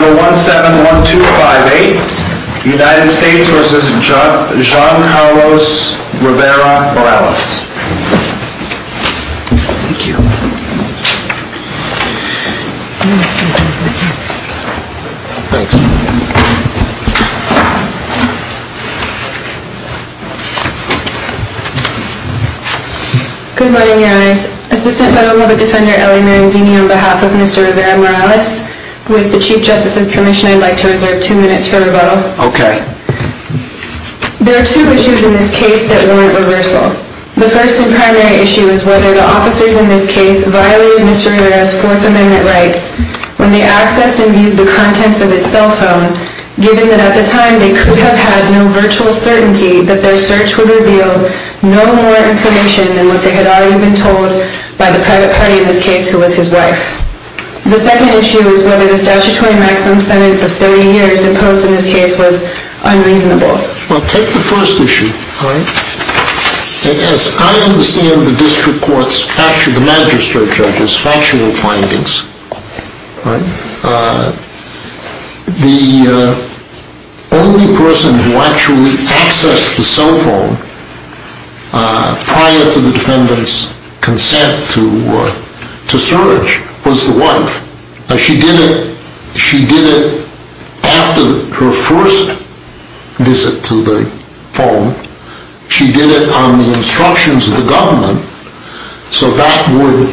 Number 171258, United States v. Giancarlo Rivera-Morales Assistant Medal of the Defender, Ellie Maranzini, on behalf of Mr. Rivera-Morales. With the Chief Justice's permission, I'd like to reserve two minutes for rebuttal. There are two issues in this case that warrant reversal. The first and primary issue is whether the officers in this case violated Mr. Rivera's Fourth Amendment rights when they accessed and viewed the contents of his cell phone, given that at the time they could have had no virtual certainty that their search would reveal no more information than what they had already been told by the private party in this case, who was his wife. The second issue is whether the statutory maximum sentence of 30 years imposed in this case was unreasonable. Well, take the first issue. As I understand the district court's, the magistrate judge's, factual findings, the only person who actually accessed the cell phone prior to the defendant's consent to search was the wife. She did it after her first visit to the phone. She did it on the instructions of the government. So that would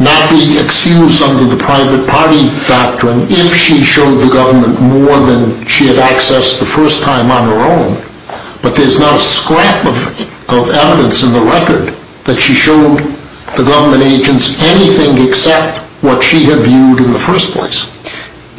not be excused under the private party doctrine if she showed the government more than she had accessed the first time on her own. But there's not a scrap of evidence in the record that she showed the government agents anything except what she had viewed in the first place.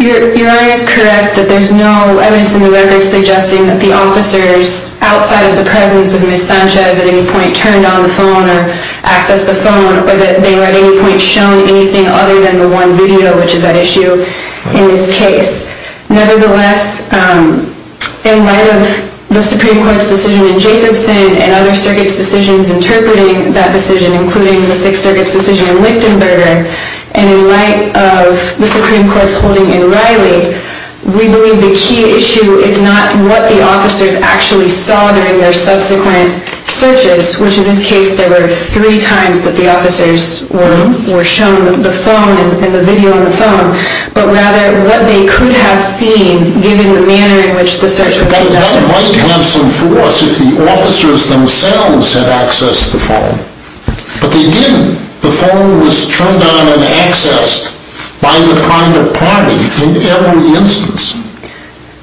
Your Honor is correct that there's no evidence in the record suggesting that the officers, outside of the presence of Ms. Sanchez at any point, turned on the phone or accessed the phone or that they were at any point shown anything other than the one video, which is at issue in this case. Nevertheless, in light of the Supreme Court's decision in Jacobson and other circuits' decisions interpreting that decision, including the Sixth Circuit's decision in Lichtenberger, and in light of the Supreme Court's holding in Riley, we believe the key issue is not what the officers actually saw during their subsequent searches, which in this case there were three times that the officers were shown the phone and the video on the phone, but rather what they could have seen given the manner in which the search was conducted. That might have some force if the officers themselves had accessed the phone, but they didn't. The phone was turned on and accessed by the private party in every instance.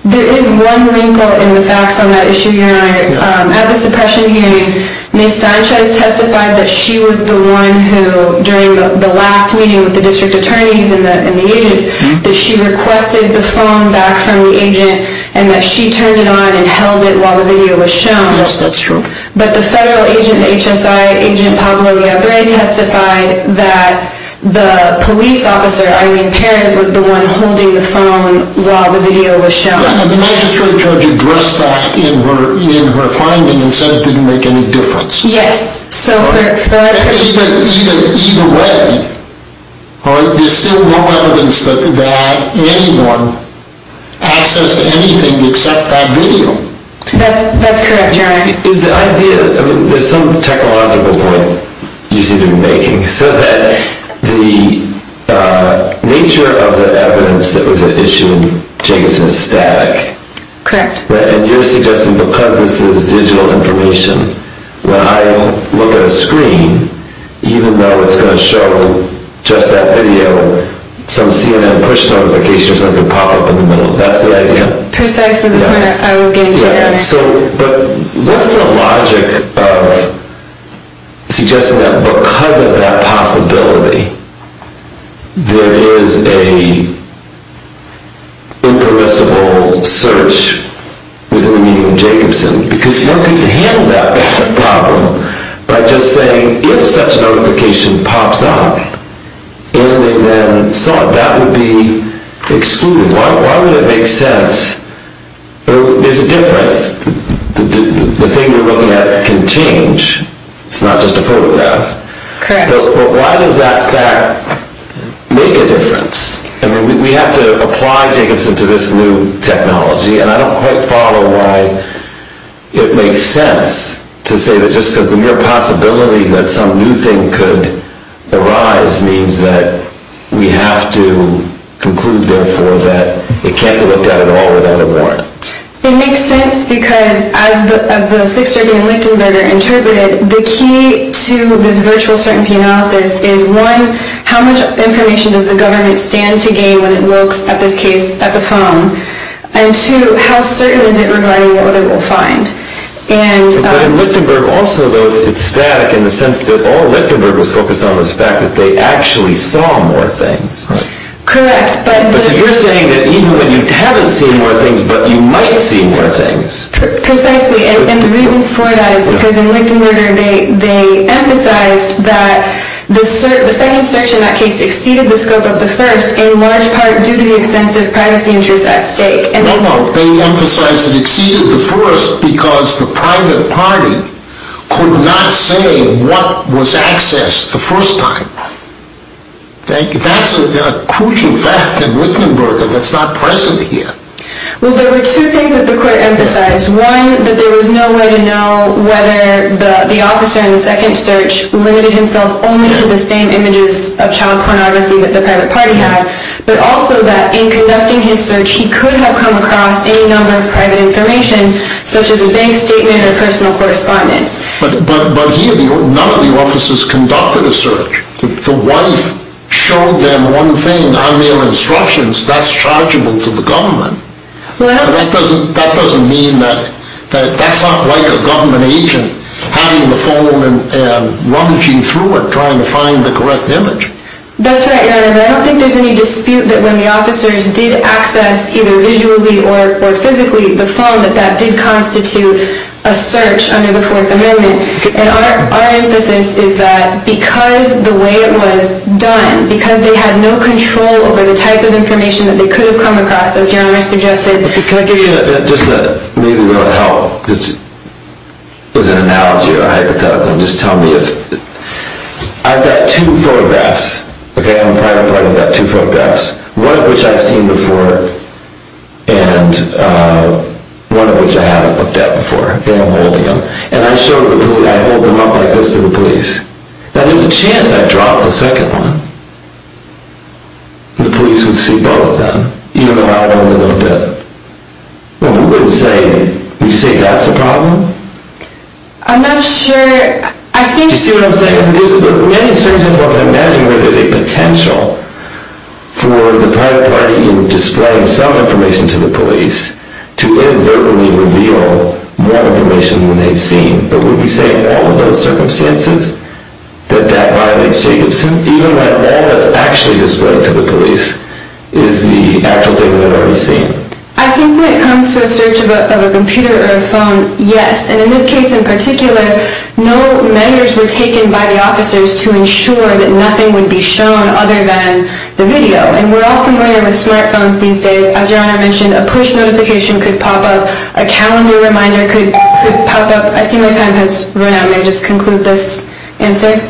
There is one wrinkle in the facts on that issue, Your Honor. At the suppression hearing, Ms. Sanchez testified that she was the one who, during the last meeting with the district attorneys and the agents, that she requested the phone back from the agent and that she turned it on and held it while the video was shown. Yes, that's true. But the federal agent at HSI, Agent Pablo Aguirre, testified that the police officer, Irene Perez, was the one holding the phone while the video was shown. The magistrate judge addressed that in her finding and said it didn't make any difference. Yes. Either way, there's still no evidence that anyone accessed anything except that video. That's correct, Your Honor. There's some technological point you seem to be making. So that the nature of the evidence that was issued in Jacobson is static. Correct. And you're suggesting because this is digital information, when I look at a screen, even though it's going to show just that video, some CNN push notification or something could pop up in the middle. That's the idea? Precisely the point I was getting to, Your Honor. But what's the logic of suggesting that because of that possibility, there is an impermissible search within the media from Jacobson? Because one could handle that problem by just saying, if such a notification pops up and they then saw it, that would be excluded. Why would that make sense? There's a difference. The thing you're looking at can change. It's not just a photograph. Correct. But why does that fact make a difference? I mean, we have to apply Jacobson to this new technology, and I don't quite follow why it makes sense to say that just because the mere possibility that some new thing could arise means that we have to conclude, therefore, that it can't be looked at at all without a warrant. It makes sense because, as the Sixth Circuit in Lichtenberger interpreted, the key to this virtual certainty analysis is, one, how much information does the government stand to gain when it looks, in this case, at the phone? And, two, how certain is it regarding what they will find? But in Lichtenberg also, though, it's static in the sense that all Lichtenberg was focused on was the fact that they actually saw more things. Correct. But you're saying that even when you haven't seen more things, but you might see more things. Precisely. And the reason for that is because in Lichtenberger they emphasized that the second search, in that case, exceeded the scope of the first in large part due to the extensive privacy interest at stake. No, no. They emphasized it exceeded the first because the private party could not say what was accessed the first time. That's a crucial fact in Lichtenberger that's not present here. Well, there were two things that the court emphasized. One, that there was no way to know whether the officer in the second search limited himself only to the same images of child pornography that the private party had, but also that in conducting his search he could have come across any number of private information, such as a bank statement or personal correspondence. But here none of the officers conducted a search. The wife showed them one thing on their instructions. That's chargeable to the government. That doesn't mean that that's not like a government agent having the phone and rummaging through it trying to find the correct image. That's right, Your Honor. But I don't think there's any dispute that when the officers did access either visually or physically the phone that that did constitute a search under the Fourth Amendment. And our emphasis is that because the way it was done, because they had no control over the type of information that they could have come across, as Your Honor suggested, because the— Can I give you just maybe a little help? It's an analogy or a hypothetical. Just tell me if—I've got two photographs, okay? I'm a private party. I've got two photographs, one of which I've seen before. And one of which I haven't looked at before. Okay, I'm holding them. And I hold them up like this to the police. Now, there's a chance I dropped the second one. The police would see both then, even though I only looked at— Would you say that's a problem? I'm not sure. Do you see what I'm saying? And there's many circumstances where I'm imagining where there's a potential for the private party in displaying some information to the police to inadvertently reveal more information than they've seen. But would we say in all of those circumstances that that violates Jacobson, even when all that's actually displayed to the police is the actual thing that they've already seen? I think when it comes to a search of a computer or a phone, yes. And in this case in particular, no measures were taken by the officers to ensure that nothing would be shown other than the video. And we're all familiar with smartphones these days. As Your Honor mentioned, a push notification could pop up. A calendar reminder could pop up. I see my time has run out. May I just conclude this answer?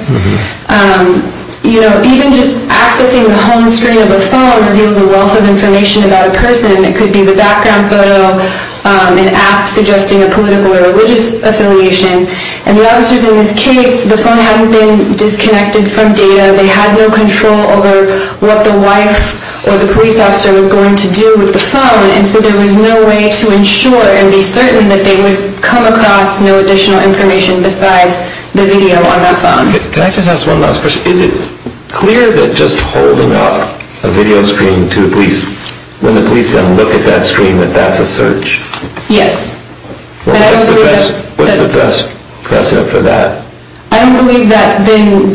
Even just accessing the home screen of a phone reveals a wealth of information about a person. It could be the background photo, an app suggesting a political or religious affiliation. And the officers in this case, the phone hadn't been disconnected from data. They had no control over what the wife or the police officer was going to do with the phone. And so there was no way to ensure and be certain that they would come across no additional information besides the video on that phone. Can I just ask one last question? Is it clear that just holding up a video screen to the police, when the police are going to look at that screen, that that's a search? Yes. What's the best precedent for that? I don't believe that's been,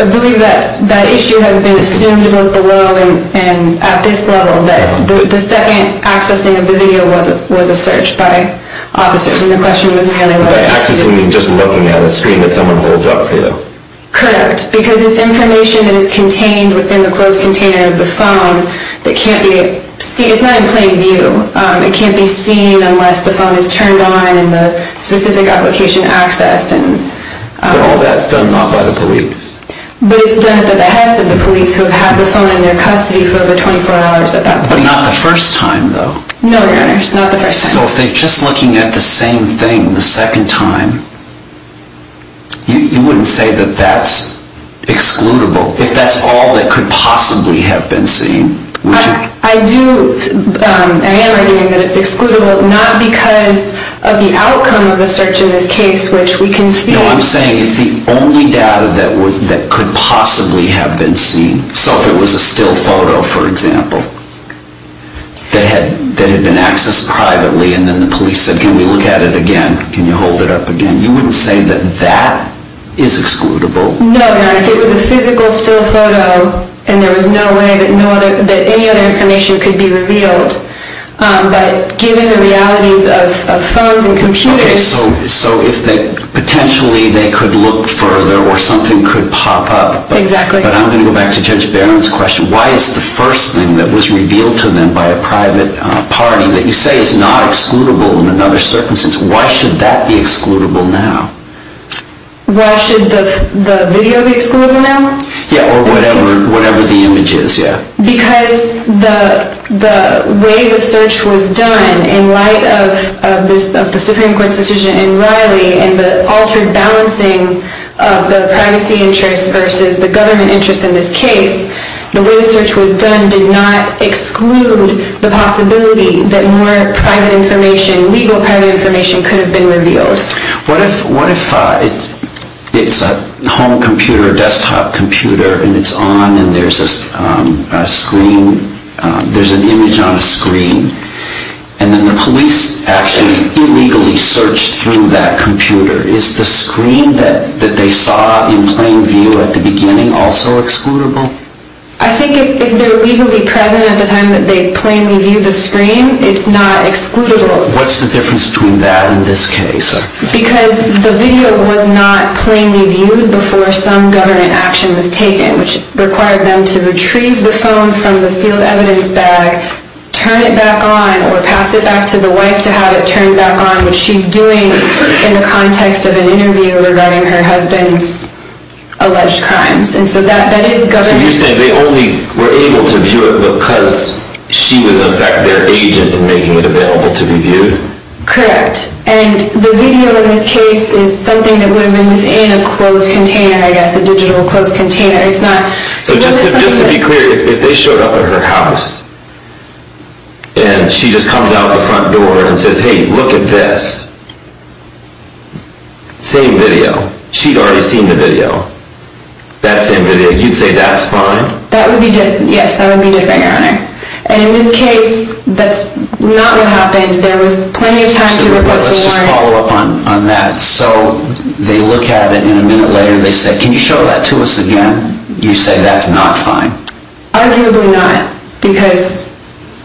I believe that issue has been assumed both below and at this level, that the second accessing of the video was a search by officers. And the question was mainly about accessing. By accessing, you mean just looking at a screen that someone holds up for you? Correct. Because it's information that is contained within the closed container of the phone that can't be, it's not in plain view. It can't be seen unless the phone is turned on and the specific application accessed. But all that's done not by the police? But it's done at the behest of the police who have had the phone in their custody for over 24 hours at that point. But not the first time, though? No, Your Honor, not the first time. So if they're just looking at the same thing the second time, you wouldn't say that that's excludable? If that's all that could possibly have been seen? I do, I am arguing that it's excludable, not because of the outcome of the search in this case, which we can see. No, I'm saying it's the only data that could possibly have been seen. So if it was a still photo, for example, that had been accessed privately and then the police said, Can we look at it again? Can you hold it up again? You wouldn't say that that is excludable? No, Your Honor, if it was a physical still photo and there was no way that any other information could be revealed. But given the realities of phones and computers. Okay, so potentially they could look further or something could pop up. Exactly. But I'm going to go back to Judge Barron's question. Why is the first thing that was revealed to them by a private party that you say is not excludable in another circumstance, why should that be excludable now? Why should the video be excludable now? Yeah, or whatever the image is, yeah. Because the way the search was done in light of the Supreme Court's decision in Riley and the altered balancing of the privacy interest versus the government interest in this case, the way the search was done did not exclude the possibility that more private information, legal private information, could have been revealed. What if it's a home computer or desktop computer and it's on and there's an image on a screen and then the police actually illegally searched through that computer. Is the screen that they saw in plain view at the beginning also excludable? I think if they're legally present at the time that they plainly viewed the screen, it's not excludable. What's the difference between that and this case? Because the video was not plainly viewed before some government action was taken, which required them to retrieve the phone from the sealed evidence bag, turn it back on or pass it back to the wife to have it turned back on, which she's doing in the context of an interview regarding her husband's alleged crimes. And so that is government. So you're saying they only were able to view it because she was in fact their agent in making it available to be viewed? Correct. And the video in this case is something that would have been within a closed container, I guess, a digital closed container. So just to be clear, if they showed up at her house and she just comes out the front door and says, hey, look at this. Same video. She'd already seen the video. That same video. You'd say that's fine? That would be different, yes. That would be different, Your Honor. And in this case, that's not what happened. There was plenty of time for the person to learn. Let's just follow up on that. So they look at it and a minute later they say, can you show that to us again? You say that's not fine. Arguably not. Because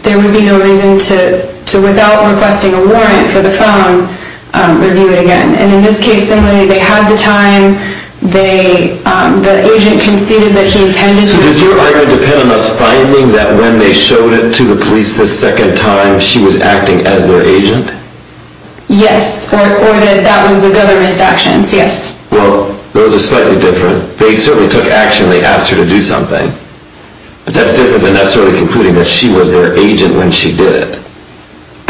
there would be no reason to, without requesting a warrant for the phone, review it again. And in this case, similarly, they had the time. The agent conceded that he intended to. So does your argument depend on us finding that when they showed it to the police the second time she was acting as their agent? Yes. Or that that was the government's actions, yes. Well, those are slightly different. They certainly took action when they asked her to do something. But that's different than necessarily concluding that she was their agent when she did it.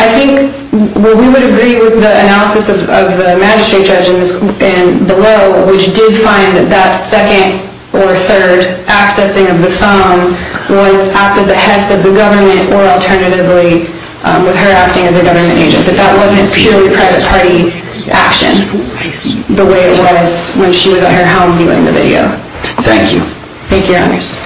I think we would agree with the analysis of the magistrate judge and the law, which did find that that second or third accessing of the phone was at the behest of the government or alternatively with her acting as a government agent. But that wasn't purely private party action the way it was when she was at her home viewing the video. Thank you. Thank you, your honors.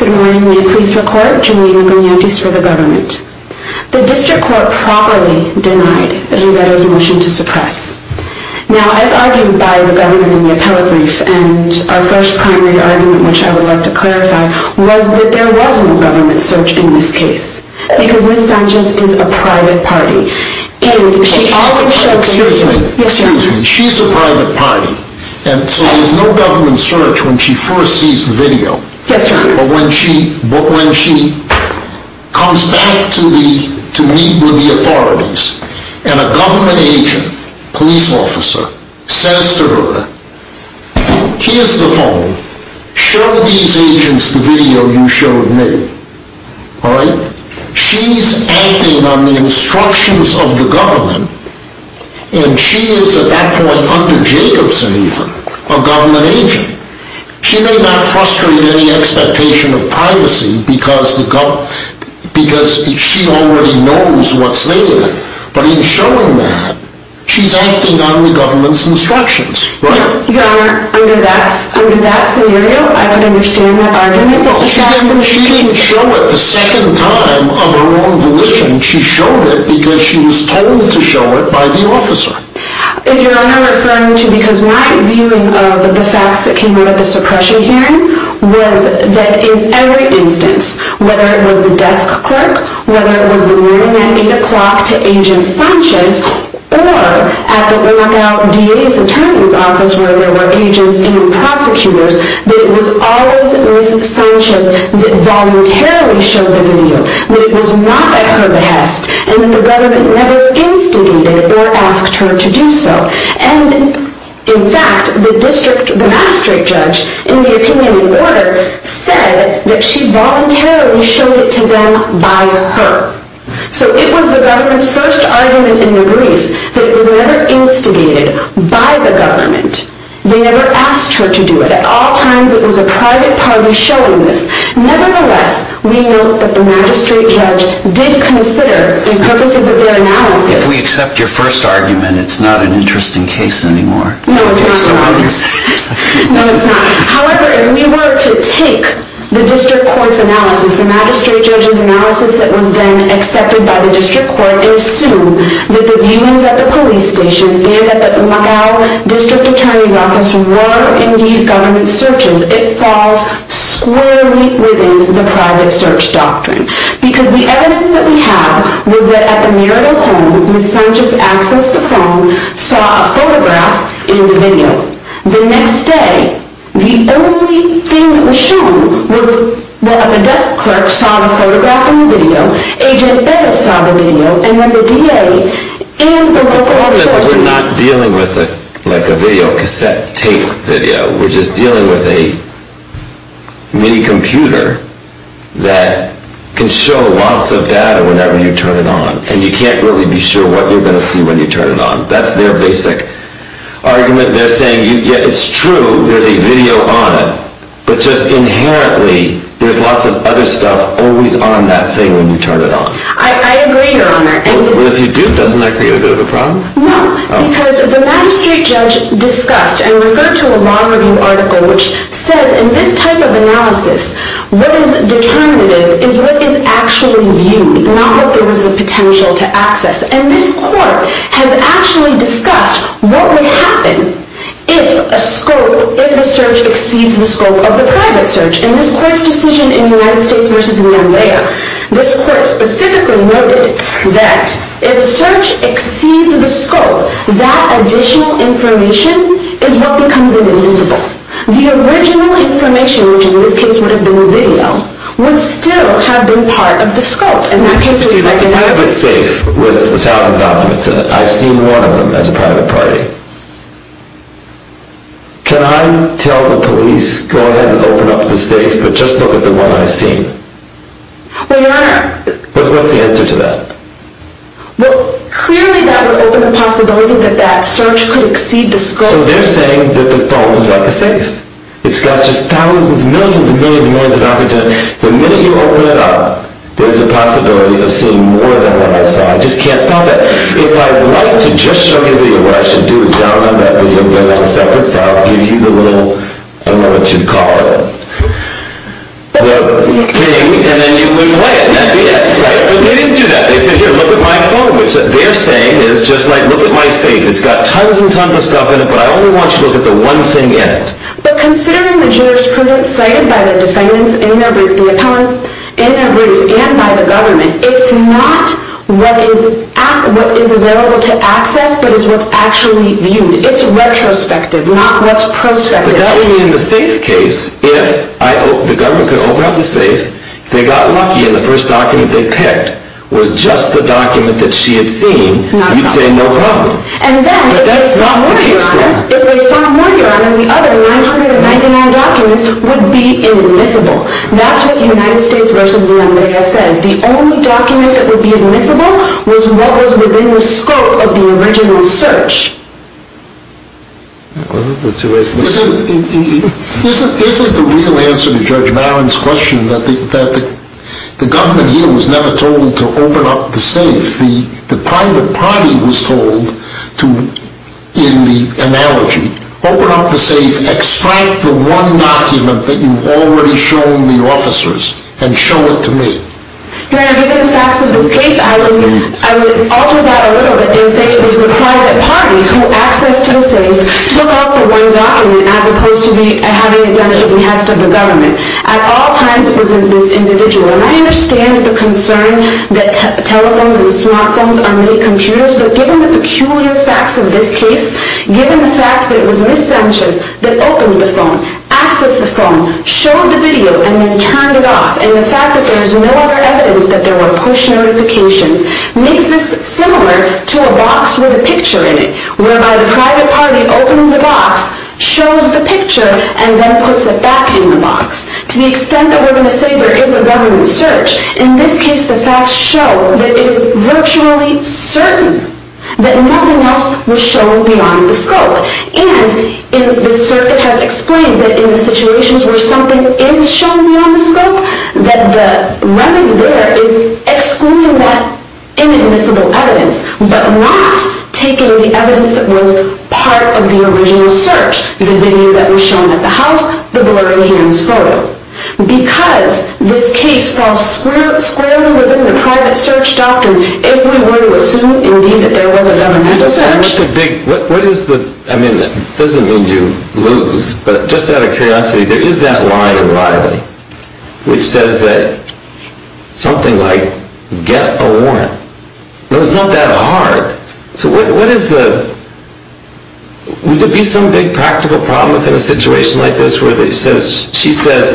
Good morning. May it please the court. Juliana Bernandes for the government. The district court properly denied Aguilero's motion to suppress. Now, as argued by the government in the appellate brief, and our first primary argument, which I would like to clarify, was that there was no government search in this case. Because Ms. Sanchez is a private party. Excuse me, excuse me. She's a private party, and so there's no government search when she first sees the video. Yes, sir. But when she comes back to meet with the authorities, and a government agent, police officer, says to her, here's the phone, show these agents the video you showed me. All right? She's acting on the instructions of the government, and she is at that point under Jacobson even, a government agent. She may not frustrate any expectation of privacy, because she already knows what's there. But in showing that, she's acting on the government's instructions. Your Honor, under that scenario, I can understand that argument. She didn't show it the second time of her own volition. She showed it because she was told to show it by the officer. Your Honor, I'm referring to because my viewing of the facts that came out of the suppression hearing was that in every instance, whether it was the desk clerk, whether it was the warning at 8 o'clock to Agent Sanchez, or at the walkout DA's attorney's office where there were agents and prosecutors, that it was always Ms. Sanchez that voluntarily showed the video, that it was not at her behest, and that the government never instigated or asked her to do so. And in fact, the magistrate judge in the opinion in order said that she voluntarily showed it to them by her. So it was the government's first argument in the brief that it was never instigated by the government. They never asked her to do it. At all times, it was a private party showing this. Nevertheless, we note that the magistrate judge did consider, in purposes of their analysis... No, it's not. However, if we were to take the district court's analysis, the magistrate judge's analysis that was then accepted by the district court, and assume that the viewings at the police station and at the Magal district attorney's office were indeed government searches, it falls squarely within the private search doctrine. Because the evidence that we have was that at the Muriel home, Ms. Sanchez accessed the phone, saw a photograph in the video. The next day, the only thing that was shown was that the desk clerk saw the photograph in the video, Agent Bezos saw the video, and then the DA in the recording... We're not dealing with a video cassette tape video. We're just dealing with a mini-computer that can show lots of data whenever you turn it on. And you can't really be sure what you're going to see when you turn it on. That's their basic argument. They're saying, yeah, it's true, there's a video on it. But just inherently, there's lots of other stuff always on that thing when you turn it on. I agree, Your Honor. Well, if you do, doesn't that create a bit of a problem? No, because the magistrate judge discussed and referred to a law review article which says, in this type of analysis, what is determinative is what is actually viewed, not what there was the potential to access. And this court has actually discussed what would happen if a scope, if the search exceeds the scope of the private search. In this court's decision in United States v. Lealea, this court specifically noted that if the search exceeds the scope, that additional information is what becomes invisible. The original information, which in this case would have been the video, would still have been part of the scope. If I have a safe with 1,000 documents in it, I've seen one of them as a private party. Can I tell the police, go ahead and open up the safe, but just look at the one I've seen? Well, Your Honor. What's the answer to that? Well, clearly that would open the possibility that that search could exceed the scope. So they're saying that the phone is like a safe. It's got just thousands, millions and millions and millions of documents in it. The minute you open it up, there's a possibility of seeing more than what I saw. I just can't stop that. If I'd like to just show you the video, what I should do is download that video, go to a separate file, give you the little, I don't know what you'd call it, the thing, and then you would play it, and that'd be it, right? But they didn't do that. They said, here, look at my phone, which they're saying is just like, look at my safe. It's got tons and tons of stuff in it, but I only want you to look at the one thing in it. But considering the jurisprudence cited by the defendants in their brief, the appellants in their brief, and by the government, it's not what is available to access but is what's actually viewed. It's retrospective, not what's prospective. But that would mean in the safe case, if the government could open up the safe, they got lucky and the first document they picked was just the document that she had seen, you'd say no problem. But that's not the case there. And then if they found more, Your Honor, the other 999 documents would be immiscible. That's what United States v. LaMaria says. The only document that would be immiscible was what was within the scope of the original search. Isn't the real answer to Judge Maron's question that the government here was never told to open up the safe? If the private party was told, in the analogy, open up the safe, extract the one document that you've already shown the officers, and show it to me? Your Honor, given the facts of this case, I would alter that a little bit and say it was the private party who accessed the safe, took out the one document, as opposed to having it done at the behest of the government. At all times it was this individual. And I understand the concern that telephones and smartphones are mini-computers, but given the peculiar facts of this case, given the fact that it was Ms. Sanchez that opened the phone, accessed the phone, showed the video, and then turned it off, and the fact that there is no other evidence that there were push notifications, makes this similar to a box with a picture in it, whereby the private party opens the box, shows the picture, and then puts it back in the box. To the extent that we're going to say there is a revenue search, in this case the facts show that it is virtually certain that nothing else was shown beyond the scope. And the circuit has explained that in the situations where something is shown beyond the scope, that the revenue there is excluding that inadmissible evidence, but not taking the evidence that was part of the original search, the video that was shown at the house, the blurry hands photo. Because this case falls squarely within the private search doctrine, if we were to assume indeed that there was a governmental search... What is the... I mean, it doesn't mean you lose, but just out of curiosity, there is that line in Riley, which says that something like, get a warrant, but it's not that hard, so what is the... Would there be some big practical problem in a situation like this where she says,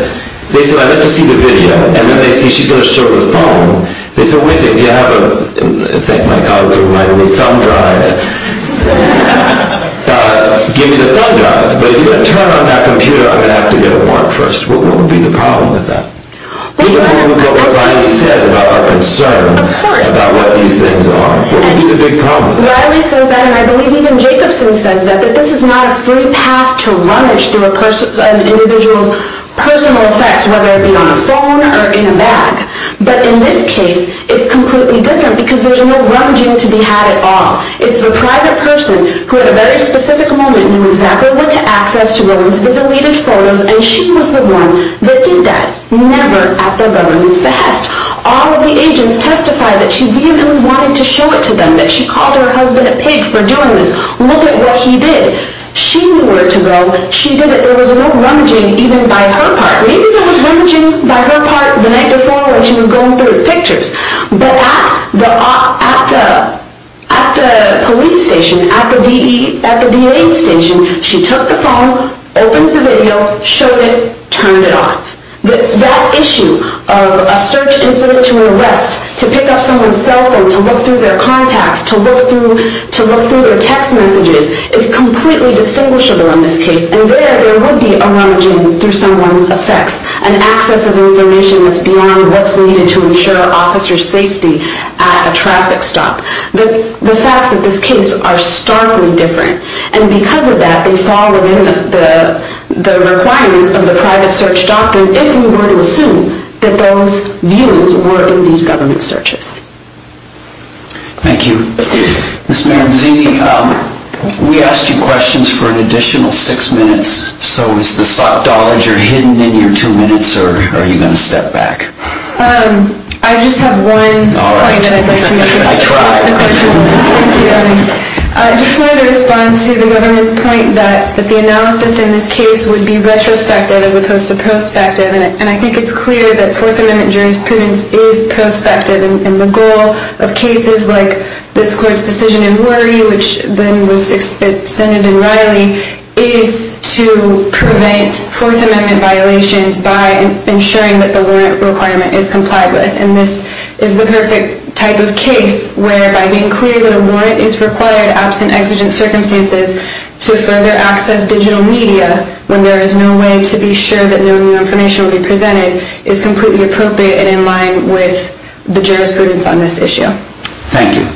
they said I'd like to see the video, and then they say she's going to show the phone. They said, wait a second, do you have a... Thank my God for my new thumb drive. Give me the thumb drive, but if you're going to turn on that computer, I'm going to have to get a warrant first. What would be the problem with that? Even more than what Riley says about our concern about what these things are. What would be the big problem? Riley says that, and I believe even Jacobson says that, that this is not a free pass to rummage through an individual's personal effects, whether it be on a phone or in a bag. But in this case, it's completely different, because there's no rummaging to be had at all. It's the private person, who at a very specific moment knew exactly what to access, and she was the one that did that. Never at the government's behest. All of the agents testified that she vehemently wanted to show it to them, that she called her husband a pig for doing this. Look at what she did. She knew where to go. She did it. There was no rummaging even by her part. Maybe there was rummaging by her part the night before when she was going through his pictures. But at the police station, at the DA's station, she took the phone, opened the video, showed it, turned it off. That issue of a search incident to arrest, to pick up someone's cell phone, to look through their contacts, to look through their text messages, is completely distinguishable in this case. And there, there would be a rummaging through someone's effects, an access of information that's beyond what's needed to ensure officers' safety at a traffic stop. The facts of this case are starkly different. And because of that, they fall within the requirements of the private search doctrine if we were to assume that those views were indeed government searches. Thank you. Ms. Manzini, we asked you questions for an additional six minutes, so is the dollars you're hidden in your two minutes, or are you going to step back? I just have one point that I'd like to make. All right. I tried. Thank you. I just wanted to respond to the government's point that the analysis in this case would be retrospective as opposed to prospective, and I think it's clear that Fourth Amendment jurisprudence is prospective, and the goal of cases like this court's decision in Worry, which then was extended in Riley, is to prevent Fourth Amendment violations by ensuring that the warrant requirement is complied with. And this is the perfect type of case where, by being clear that a warrant is required absent exigent circumstances to further access digital media when there is no way to be sure that no new information will be presented, is completely appropriate and in line with the jurisprudence on this issue. Thank you.